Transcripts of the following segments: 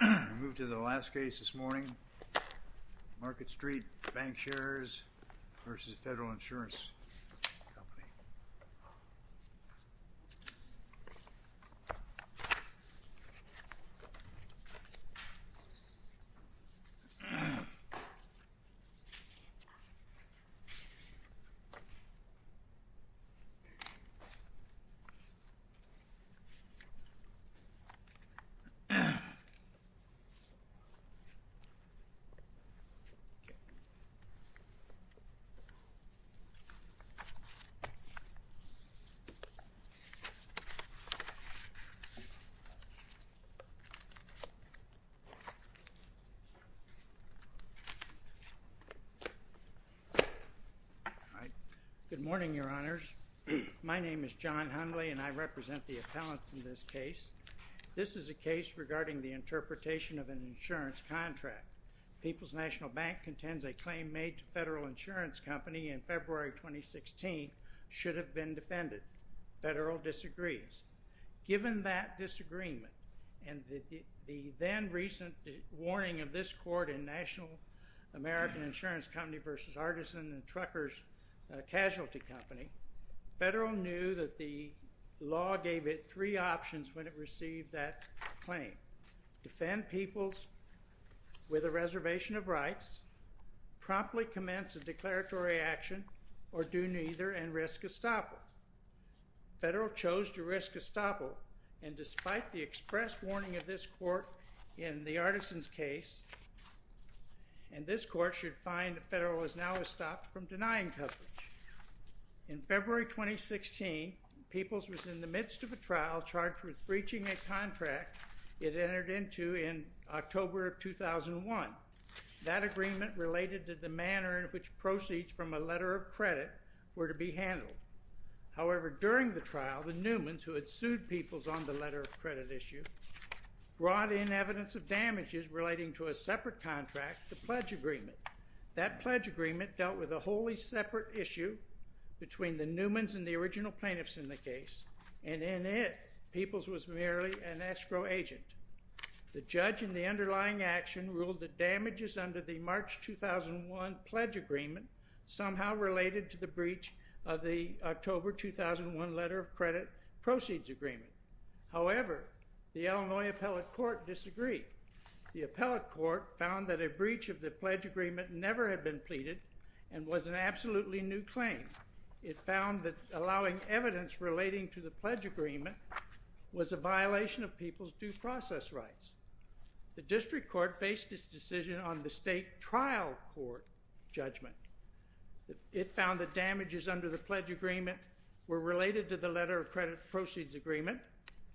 We move to the last case this morning, Market Street Bancshares v. Federal Insurance Company. Good morning, Your Honors. My name is John Hundley, and I represent the appellants in this case. This is a case regarding the interpretation of an insurance contract. People's National Bank contends a claim made to Federal Insurance Company in February 2016 should have been defended. Federal disagrees. Given that disagreement and the then-recent warning of this court in National American Insurance Company v. Artisan and Truckers Casualty Company, Federal knew that the law gave it three options when it received that claim. Defend people with a reservation of rights, promptly commence a declaratory action, or do neither and risk estoppel. Federal chose to risk estoppel, and despite the express warning of this court in the Artisan's case, and this court should find that Federal has now stopped from denying coverage. In February 2016, People's was in the midst of a trial charged with breaching a contract it entered into in October of 2001. That agreement related to the manner in which proceeds from a letter of credit were to be handled. However, during the trial, the Newmans, who had sued People's on the letter of credit issue, brought in evidence of damages relating to a separate contract, the pledge agreement. That pledge agreement dealt with a wholly separate issue between the Newmans and the original plaintiffs in the case, and in it, People's was merely an escrow agent. The judge in the underlying action ruled the damages under the March 2001 pledge agreement somehow related to the breach of the October 2001 letter of credit proceeds agreement. However, the Illinois appellate court disagreed. The appellate court found that a breach of the pledge agreement never had been pleaded and was an absolutely new claim. It found that allowing evidence relating to the pledge agreement was a violation of People's due process rights. The district court faced its decision on the to the letter of credit proceeds agreement.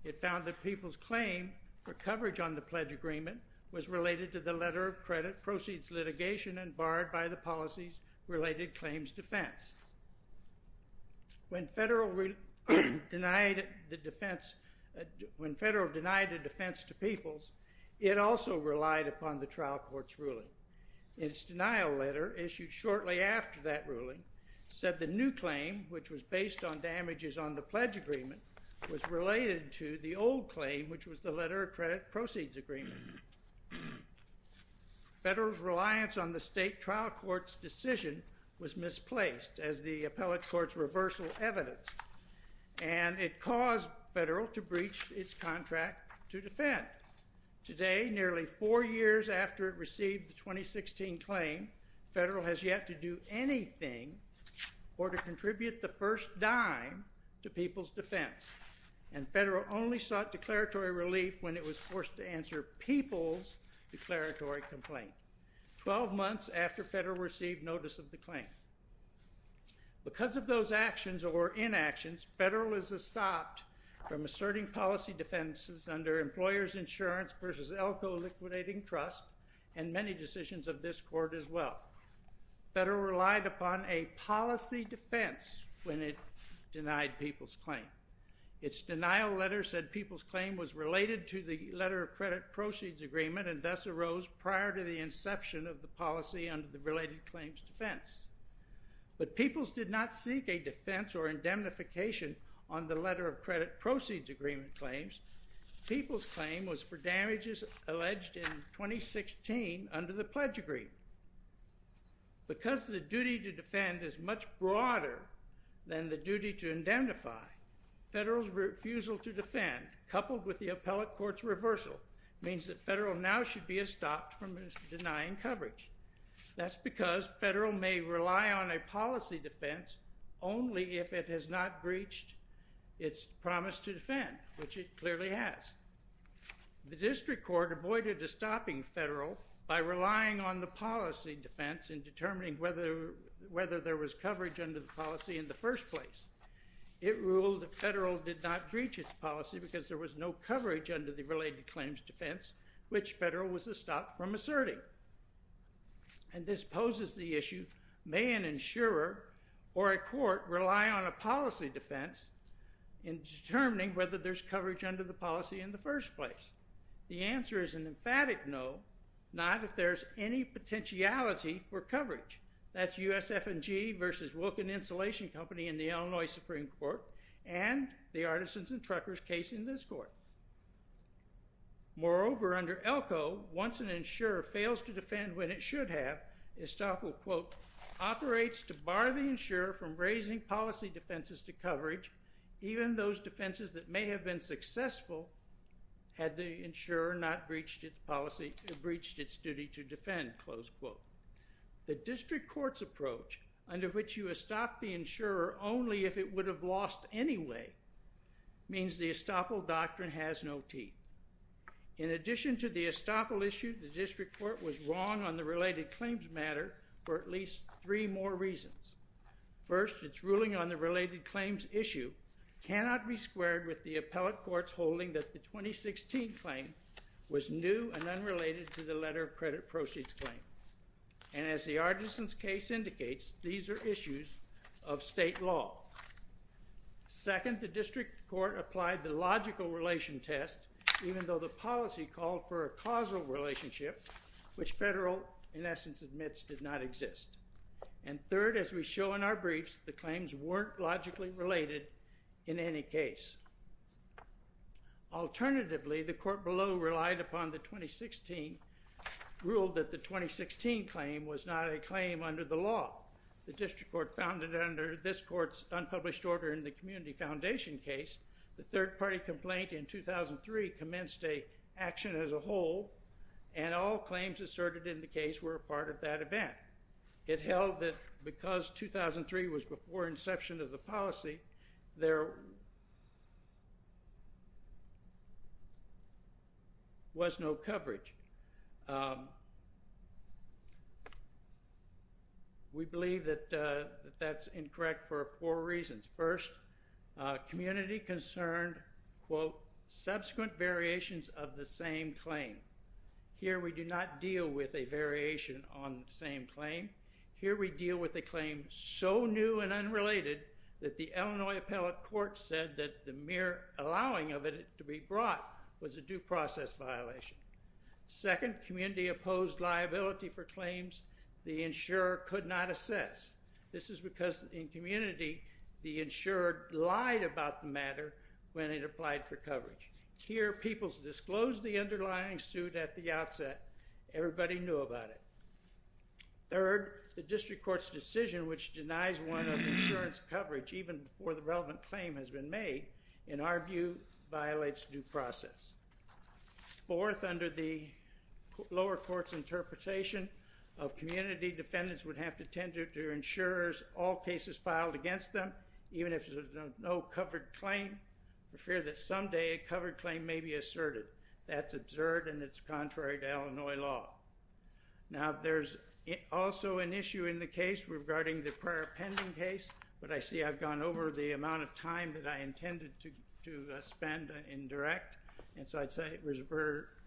It found that People's claim for coverage on the pledge agreement was related to the letter of credit proceeds litigation and barred by the policies related claims defense. When Federal denied the defense to People's, it also relied upon the trial court's ruling. Its denial letter, issued shortly after that on the pledge agreement, was related to the old claim, which was the letter of credit proceeds agreement. Federal's reliance on the state trial court's decision was misplaced as the appellate court's reversal evidence, and it caused Federal to breach its contract to defend. Today, nearly four years after it received the 2016 claim, Federal has yet to do anything or to contribute the first dime to People's defense, and Federal only sought declaratory relief when it was forced to answer People's declaratory complaint, 12 months after Federal received notice of the claim. Because of those actions or inactions, Federal is stopped from asserting policy defenses under employer's insurance versus Elko liquidating trust and many decisions of this court as well. Federal relied upon a policy defense when it denied People's claim. Its denial letter said People's claim was related to the letter of credit proceeds agreement and thus arose prior to the inception of the policy under the related claims defense. But People's did not seek a defense or indemnification on the letter of credit proceeds agreement claims. People's claim was for damages alleged in 2016 under the pledge agreement. Because the duty to defend is much broader than the duty to indemnify, Federal's refusal to defend coupled with the appellate court's reversal means that Federal now should be stopped from denying coverage. That's because Federal may rely on a policy defense only if it has not breached its promise to defend, which it clearly has. The district court avoided stopping Federal by relying on the policy defense in determining whether there was coverage under the policy in the first place. It ruled that Federal did not breach its policy because there was no coverage under the related claims defense, which Federal was to stop from asserting. And this poses the issue, may an insurer or an insurer fails to defend when it should have, Estoppel, quote, operates to bar the defenses to coverage, even those defenses that may have been successful had the insurer not breached its policy, breached its duty to defend, close quote. The district court's approach under which you estop the insurer only if it would have lost anyway means the Estoppel doctrine has no teeth. In addition to the Estoppel issue, the district court was wrong on the related claims matter for at least three more reasons. First, it's ruling on the related claims issue cannot be squared with the appellate court's holding that the 2016 claim was new and unrelated to the letter of credit proceeds claim. And as the Artisans case indicates, these are issues of state law. Second, the district court applied the logical relation test, even though the policy called for a causal relationship, which Federal Court in essence admits did not exist. And third, as we show in our briefs, the claims weren't logically related in any case. Alternatively, the court below relied upon the 2016, ruled that the 2016 claim was not a claim under the law. The district court found it under this court's unpublished order in the Community Foundation case. The third party complaint in 2003 commenced a action as a whole, and all claims asserted in the case were a part of that event. It held that because 2003 was before inception of the policy, there was no coverage. We believe that that's incorrect for four reasons. First, community-concerned quote, subsequent variations of the same claim. Here we do not deal with a variation on the same claim. Here we deal with a claim so new and unrelated that the Illinois appellate court said that the mere allowing of it to be brought was a due process violation. Second, community-opposed liability for claims the insurer could not assess. This is because in community, the insurer lied about the matter when it applied for coverage. Here, people disclosed the underlying suit at the outset. Everybody knew about it. Third, the district court's decision which denies one of the insurance coverage even before the relevant claim has been made, in our view, violates due process. Fourth, under the lower court's interpretation of community, defendants would have to tender to insurers all cases filed against them even if there's no covered claim for fear that someday a covered claim may be asserted. That's absurd and it's contrary to Illinois law. Now, there's also an issue in the case regarding the prior pending case, but I see I've gone over the amount of time that I intended to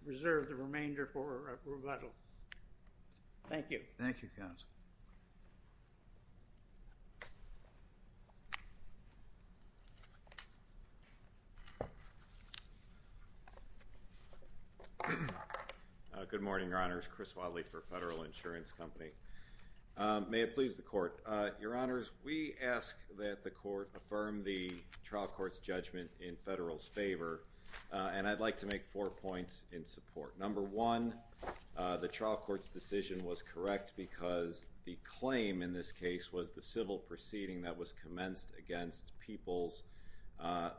reserve the remainder for rebuttal. Thank you. Thank you, counsel. Good morning, Your Honors. Chris Wadley for Federal Insurance Company. May it please the court. Your Honors, we ask that the court affirm the trial court's judgment in Federal's favor, and I'd like to make four points in support. Number one, the trial court's decision was correct because the claim in this case was the civil proceeding that was commenced against peoples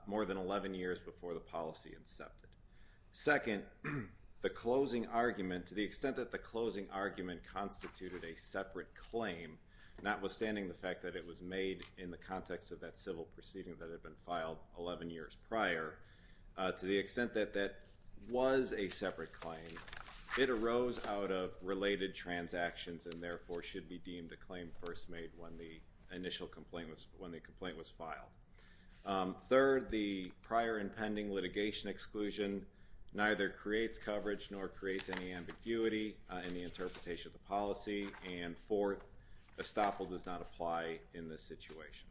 more than 11 years before the policy incepted. Second, the closing argument, to the extent that the closing argument constituted a separate claim, notwithstanding the fact that it was made in the context of that civil proceeding that had been filed 11 years prior, to the extent that that was a separate claim, it arose out of related transactions and therefore should be deemed a claim first made when the initial complaint was, when the complaint was filed. Third, the prior impending litigation exclusion neither creates coverage nor creates any ambiguity in the interpretation of the policy. And fourth, estoppel does not apply in this situation.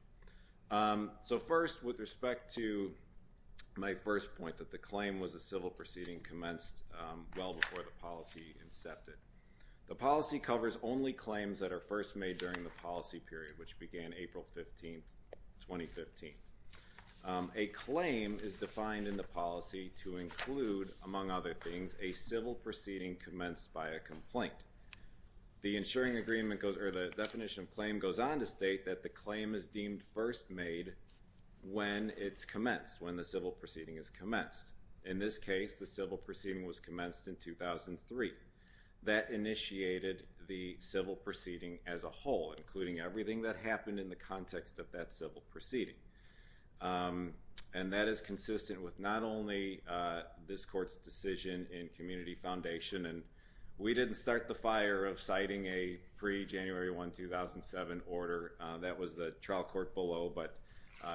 So first, with respect to my first point, that the claim was a civil proceeding commenced well before the policy incepted. The policy covers only claims that are first made during the policy period, which began April 15th, 2015. A claim is defined in the policy to include, among other things, a civil proceeding commenced by a complaint. The insuring agreement goes, or the definition of claim goes on to state that the claim is deemed first made when it's commenced, when the civil proceeding is commenced. In this case, the civil proceeding was commenced in 2003. That initiated the civil proceeding as a whole, including everything that happened in the context of that civil proceeding. And that is consistent with not only this court's decision in community foundation, and we didn't start the fire of citing a pre-January 1, 2007 order. That was the trial court below, but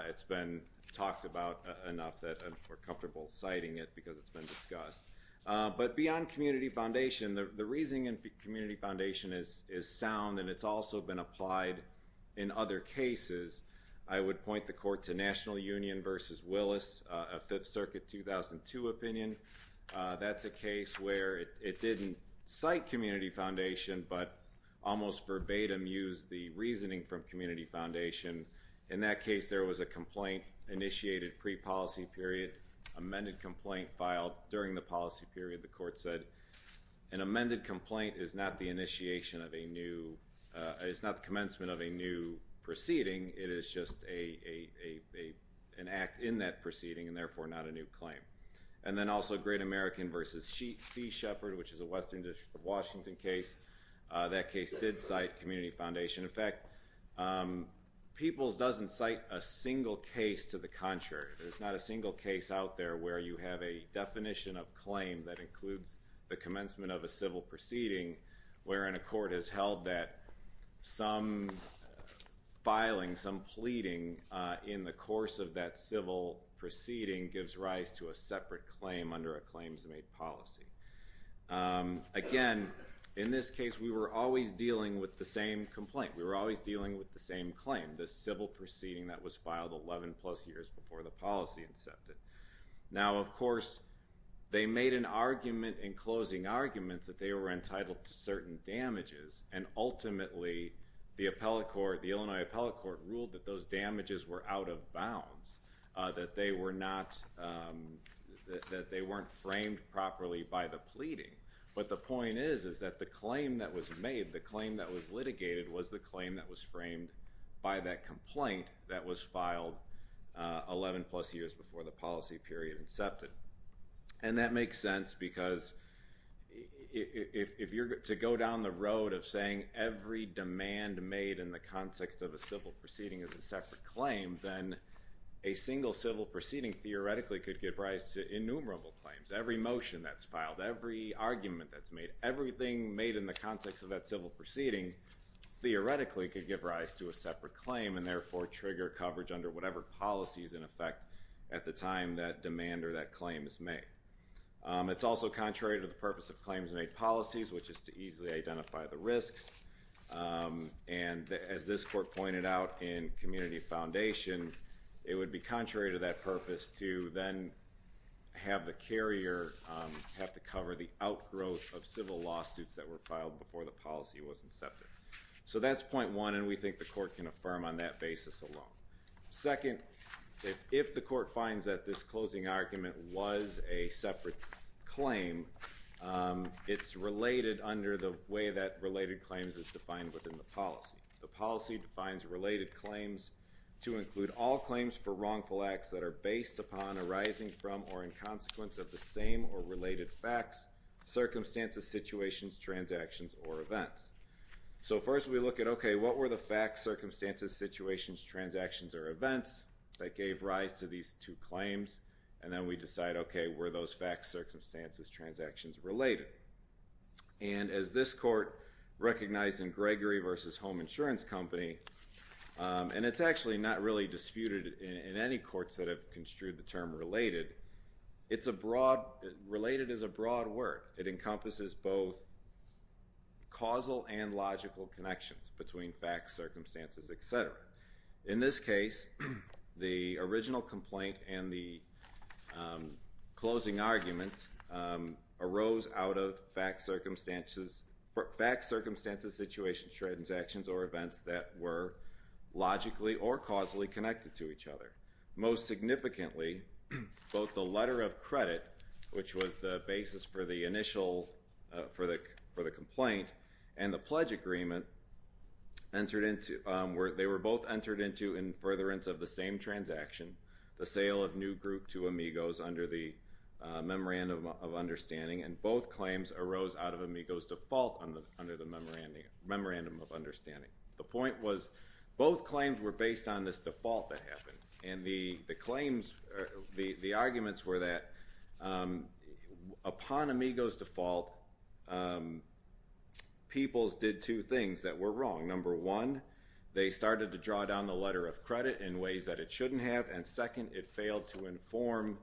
it's been talked about enough that we're comfortable citing it because it's been discussed. But beyond community foundation, the reasoning in community foundation is sound, and it's also been applied in other cases. I would point the court to National Union v. Willis, a 5th Circuit, 2002 opinion. That's a case where it didn't cite community foundation, but almost verbatim used the reasoning from community foundation. In that case, there was a complaint initiated pre-policy period, amended complaint filed during the policy period. The court said an amended complaint is not the initiation of a new, it's not the proceeding, and therefore not a new claim. And then also Great American v. C. Shepard, which is a Western District of Washington case. That case did cite community foundation. In fact, Peoples doesn't cite a single case to the contrary. There's not a single case out there where you have a definition of claim that includes the commencement of a civil proceeding wherein a court has held that some filing, some pleading in the course of that civil proceeding gives rise to a separate claim under a claims-made policy. Again, in this case, we were always dealing with the same complaint. We were always dealing with the same claim, the civil proceeding that was filed 11 plus years before the policy incepted. Now, of course, they made an argument in closing arguments that they were entitled to certain damages, and ultimately, the appellate court, the Illinois appellate court ruled that those damages were out of bounds, that they were not, that they weren't framed properly by the pleading. But the point is that the claim that was made, the claim that was litigated was the claim that was framed by that complaint that was filed 11 plus years before the policy period incepted. And that makes sense because if you're to go down the road of saying every demand made in the context of a civil proceeding is a separate claim, then a single civil proceeding theoretically could give rise to innumerable claims. Every motion that's filed, every argument that's made, everything made in the context of that civil proceeding theoretically could give rise to a separate claim and therefore trigger coverage under whatever policy is in effect at the time that demand or that claim is made. It's also contrary to the purpose of claims made policies, which is to easily identify the risks. And as this court pointed out in community foundation, it would be contrary to that purpose to then have the carrier have to cover the outgrowth of civil lawsuits that were filed before the policy was incepted. So that's point one, and we think the court can affirm on that basis alone. Second, if the court finds that this closing argument was a separate claim, it's related under the way that related claims is defined within the policy. The policy defines related claims to include all claims for wrongful acts that are based upon, arising from, or in consequence of the same or related facts, circumstances, situations, transactions, or events. So first we look at, okay, what were the facts, circumstances, situations, transactions, or events that gave rise to these two claims? And then we decide, okay, were those facts, circumstances, transactions related? And as this court recognized in Gregory v. Home Insurance Company, and it's actually not really disputed in any courts that have construed the term related, it's a broad, related is a broad word. It encompasses both causal and logical connections between facts, circumstances, etc. In this case, the original complaint and the closing argument arose out of facts, circumstances, situations, transactions, or events that were logically or causally connected to each other. Most significantly, both the letter of credit, which was the basis for the initial, for the complaint, and the pledge agreement entered into, they were both entered into in furtherance of the same transaction, the sale of new group to Amigos under the Memorandum of Understanding, and both claims arose out of Amigos default under the Memorandum of Understanding. The point was, both claims were based on this default that happened, and the claims, the arguments were that upon Amigos default, Peoples did two things that were wrong. Number one, they started to draw down the letter of credit in ways that it shouldn't have, and second, it failed to inform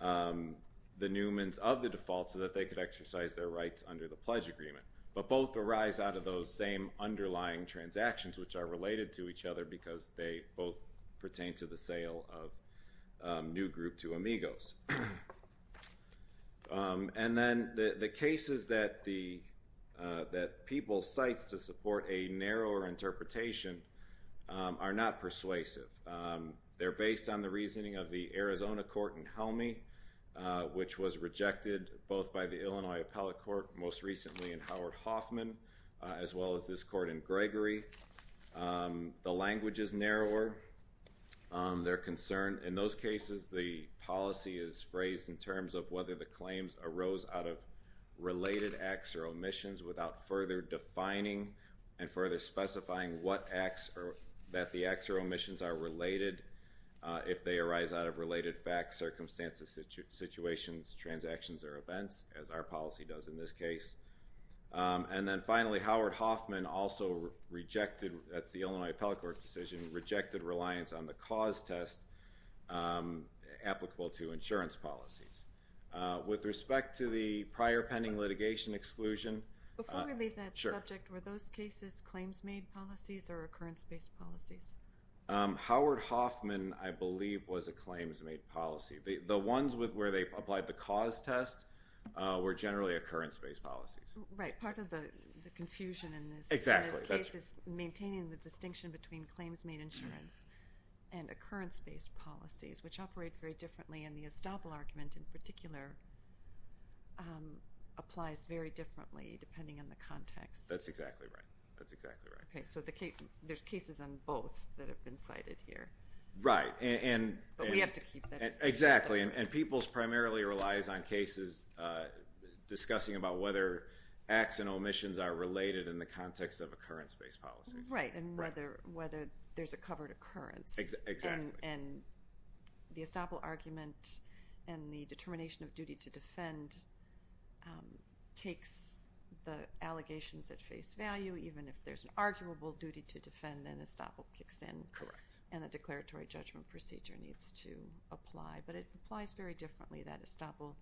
the Newmans of the default so that they could exercise their rights under the pledge agreement. But both arise out of those same underlying transactions, which are related to each other because they both pertain to the sale of new group to Amigos. And then the cases that Peoples cites to support a narrower interpretation are not persuasive. They're based on the reasoning of the Arizona court in Helmi, which was rejected both by the Illinois appellate court, most recently in Howard Hoffman, as well as this court in Gregory. The language is narrower. They're concerned. In those cases, the policy is phrased in terms of whether the claims arose out of related acts or omissions without further defining and further specifying what acts or, that the acts or omissions are related, if they arise out of related facts, circumstances, situations, transactions, or events, as our Howard Hoffman also rejected, that's the Illinois appellate court decision, rejected reliance on the cause test applicable to insurance policies. With respect to the prior pending litigation exclusion. Before we leave that subject, were those cases claims made policies or occurrence based policies? Howard Hoffman, I believe, was a claims made policy. The ones where they applied the cause test were generally occurrence based policies. Right. Part of the confusion in this case is maintaining the distinction between claims made insurance and occurrence based policies, which operate very differently, and the Estoppel argument in particular applies very differently depending on the context. That's exactly right. Okay, so there's cases on both that have been cited here. Right. But we have to keep that distinction. Exactly, and Peoples primarily relies on cases discussing about whether acts and omissions are related in the context of occurrence based policies. Right, and whether there's a covered occurrence. Exactly. And the Estoppel argument and the determination of duty to defend takes the allegations at face value, even if there's an arguable duty to defend, then Estoppel kicks in. Correct. And a declaratory judgment procedure needs to apply, but it applies very differently. That Estoppel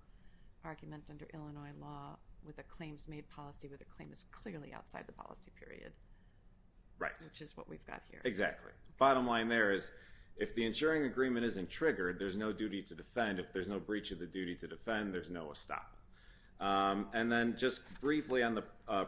argument under Illinois law with a claims made policy where the claim is clearly outside the policy period. Right. Which is what we've got here. Exactly. Bottom line there is if the insuring agreement isn't triggered, there's no duty to defend. If there's no breach of the duty to defend, there's no Estoppel. And then just briefly on the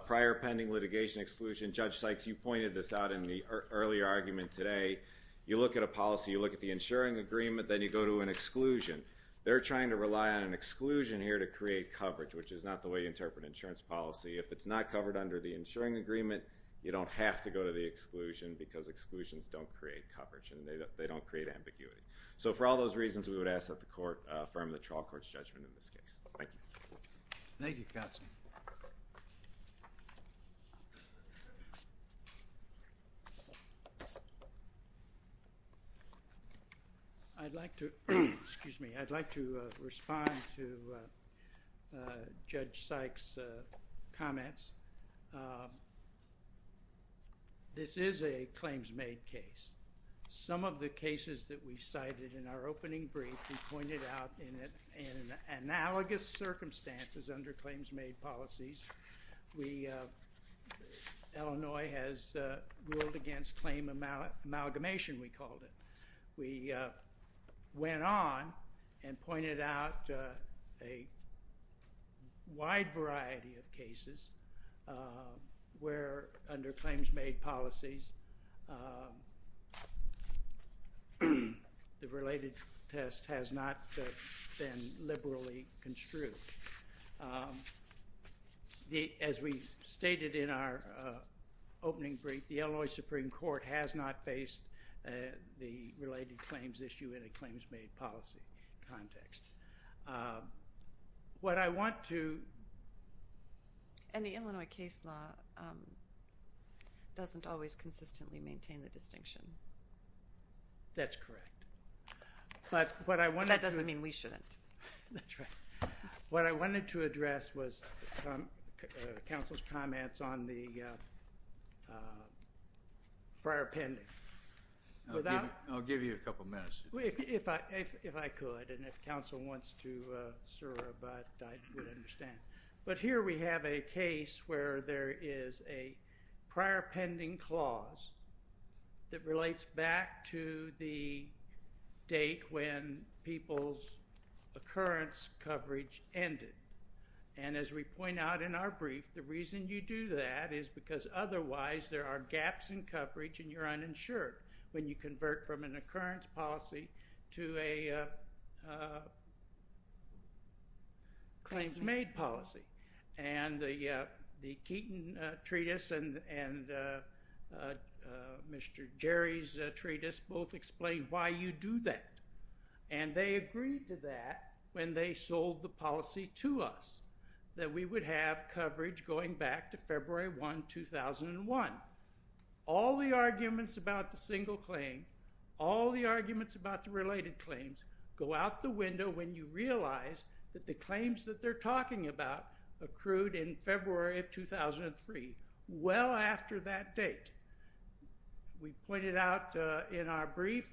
prior pending litigation exclusion, Judge Sykes, you pointed this out in the earlier argument today, you look at a policy, you look at the insuring agreement, then you go to an exclusion. They're trying to rely on an exclusion here to create coverage, which is not the way you interpret insurance policy. If it's not covered under the insuring agreement, you don't have to go to the exclusion because exclusions don't create coverage and they don't create ambiguity. So for all those reasons, we would ask that the court affirm the trial court's judgment in this case. Thank you. Thank you, counsel. I'd like to, excuse me, I'd like to respond to Judge Sykes' comments. This is a claims-made case. Some of the cases that we cited in our opening brief, we pointed out in analogous circumstances under claims-made policies. We, Illinois has ruled against claim amalgamation, we called it. We went on and pointed out a wide variety of cases where under claims-made policies, the related test has not been liberally construed. As we stated in our opening brief, the Illinois Supreme Court has not faced the related claims issue in a claims-made policy context. What I want to... And the Illinois case law doesn't always consistently maintain the distinction. That's correct. But what I wanted to... That doesn't mean we shouldn't. That's right. What I wanted to address was counsel's comments on the prior pending. Without... I'll give you a couple minutes. If I could, and if counsel wants to, sir, I would understand. But here we have a case where there is a prior pending clause that relates back to the date when people's occurrence coverage ended. And as we point out in our brief, the reason you do that is because otherwise there are gaps in coverage and you're uninsured when you convert from an occurrence policy to a claims-made policy. And the Keaton treatise and Mr. Jerry's treatise both explain why you do that. And they agreed to that when they sold the policy to us that we would have coverage going back to February 1, 2001. All the arguments about the single claim, all the arguments about the related claims, go out the window when you realize that the claims that they're talking about accrued in February of 2003, well after that date. We pointed out in our brief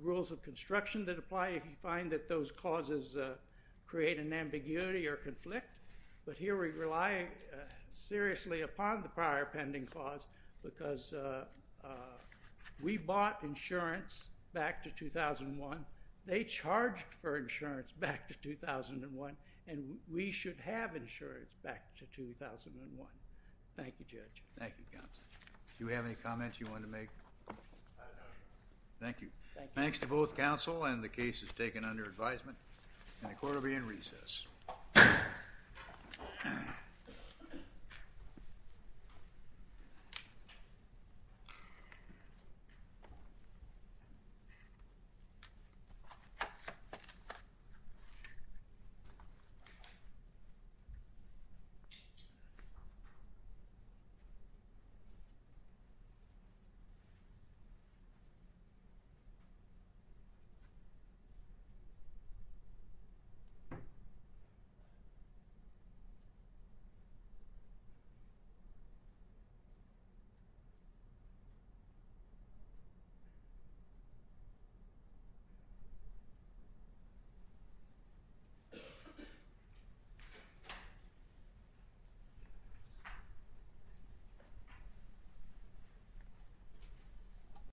rules of construction that apply if you find that those clauses create an ambiguity or conflict. But here we rely seriously upon the prior pending clause because we bought insurance back to 2001, they charged for insurance back to 2001, and we should have insurance back to 2001. Thank you, Judge. Thank you, counsel. Do you have any comments you want to make? I have nothing. Thank you. Thanks to both counsel and the cases taken under advisement. Thank you. Thank you. Thank you. Thank you. Thank you. Thank you. Thank you. Thank you. Thank you. Thank you. Thank you. Thank you.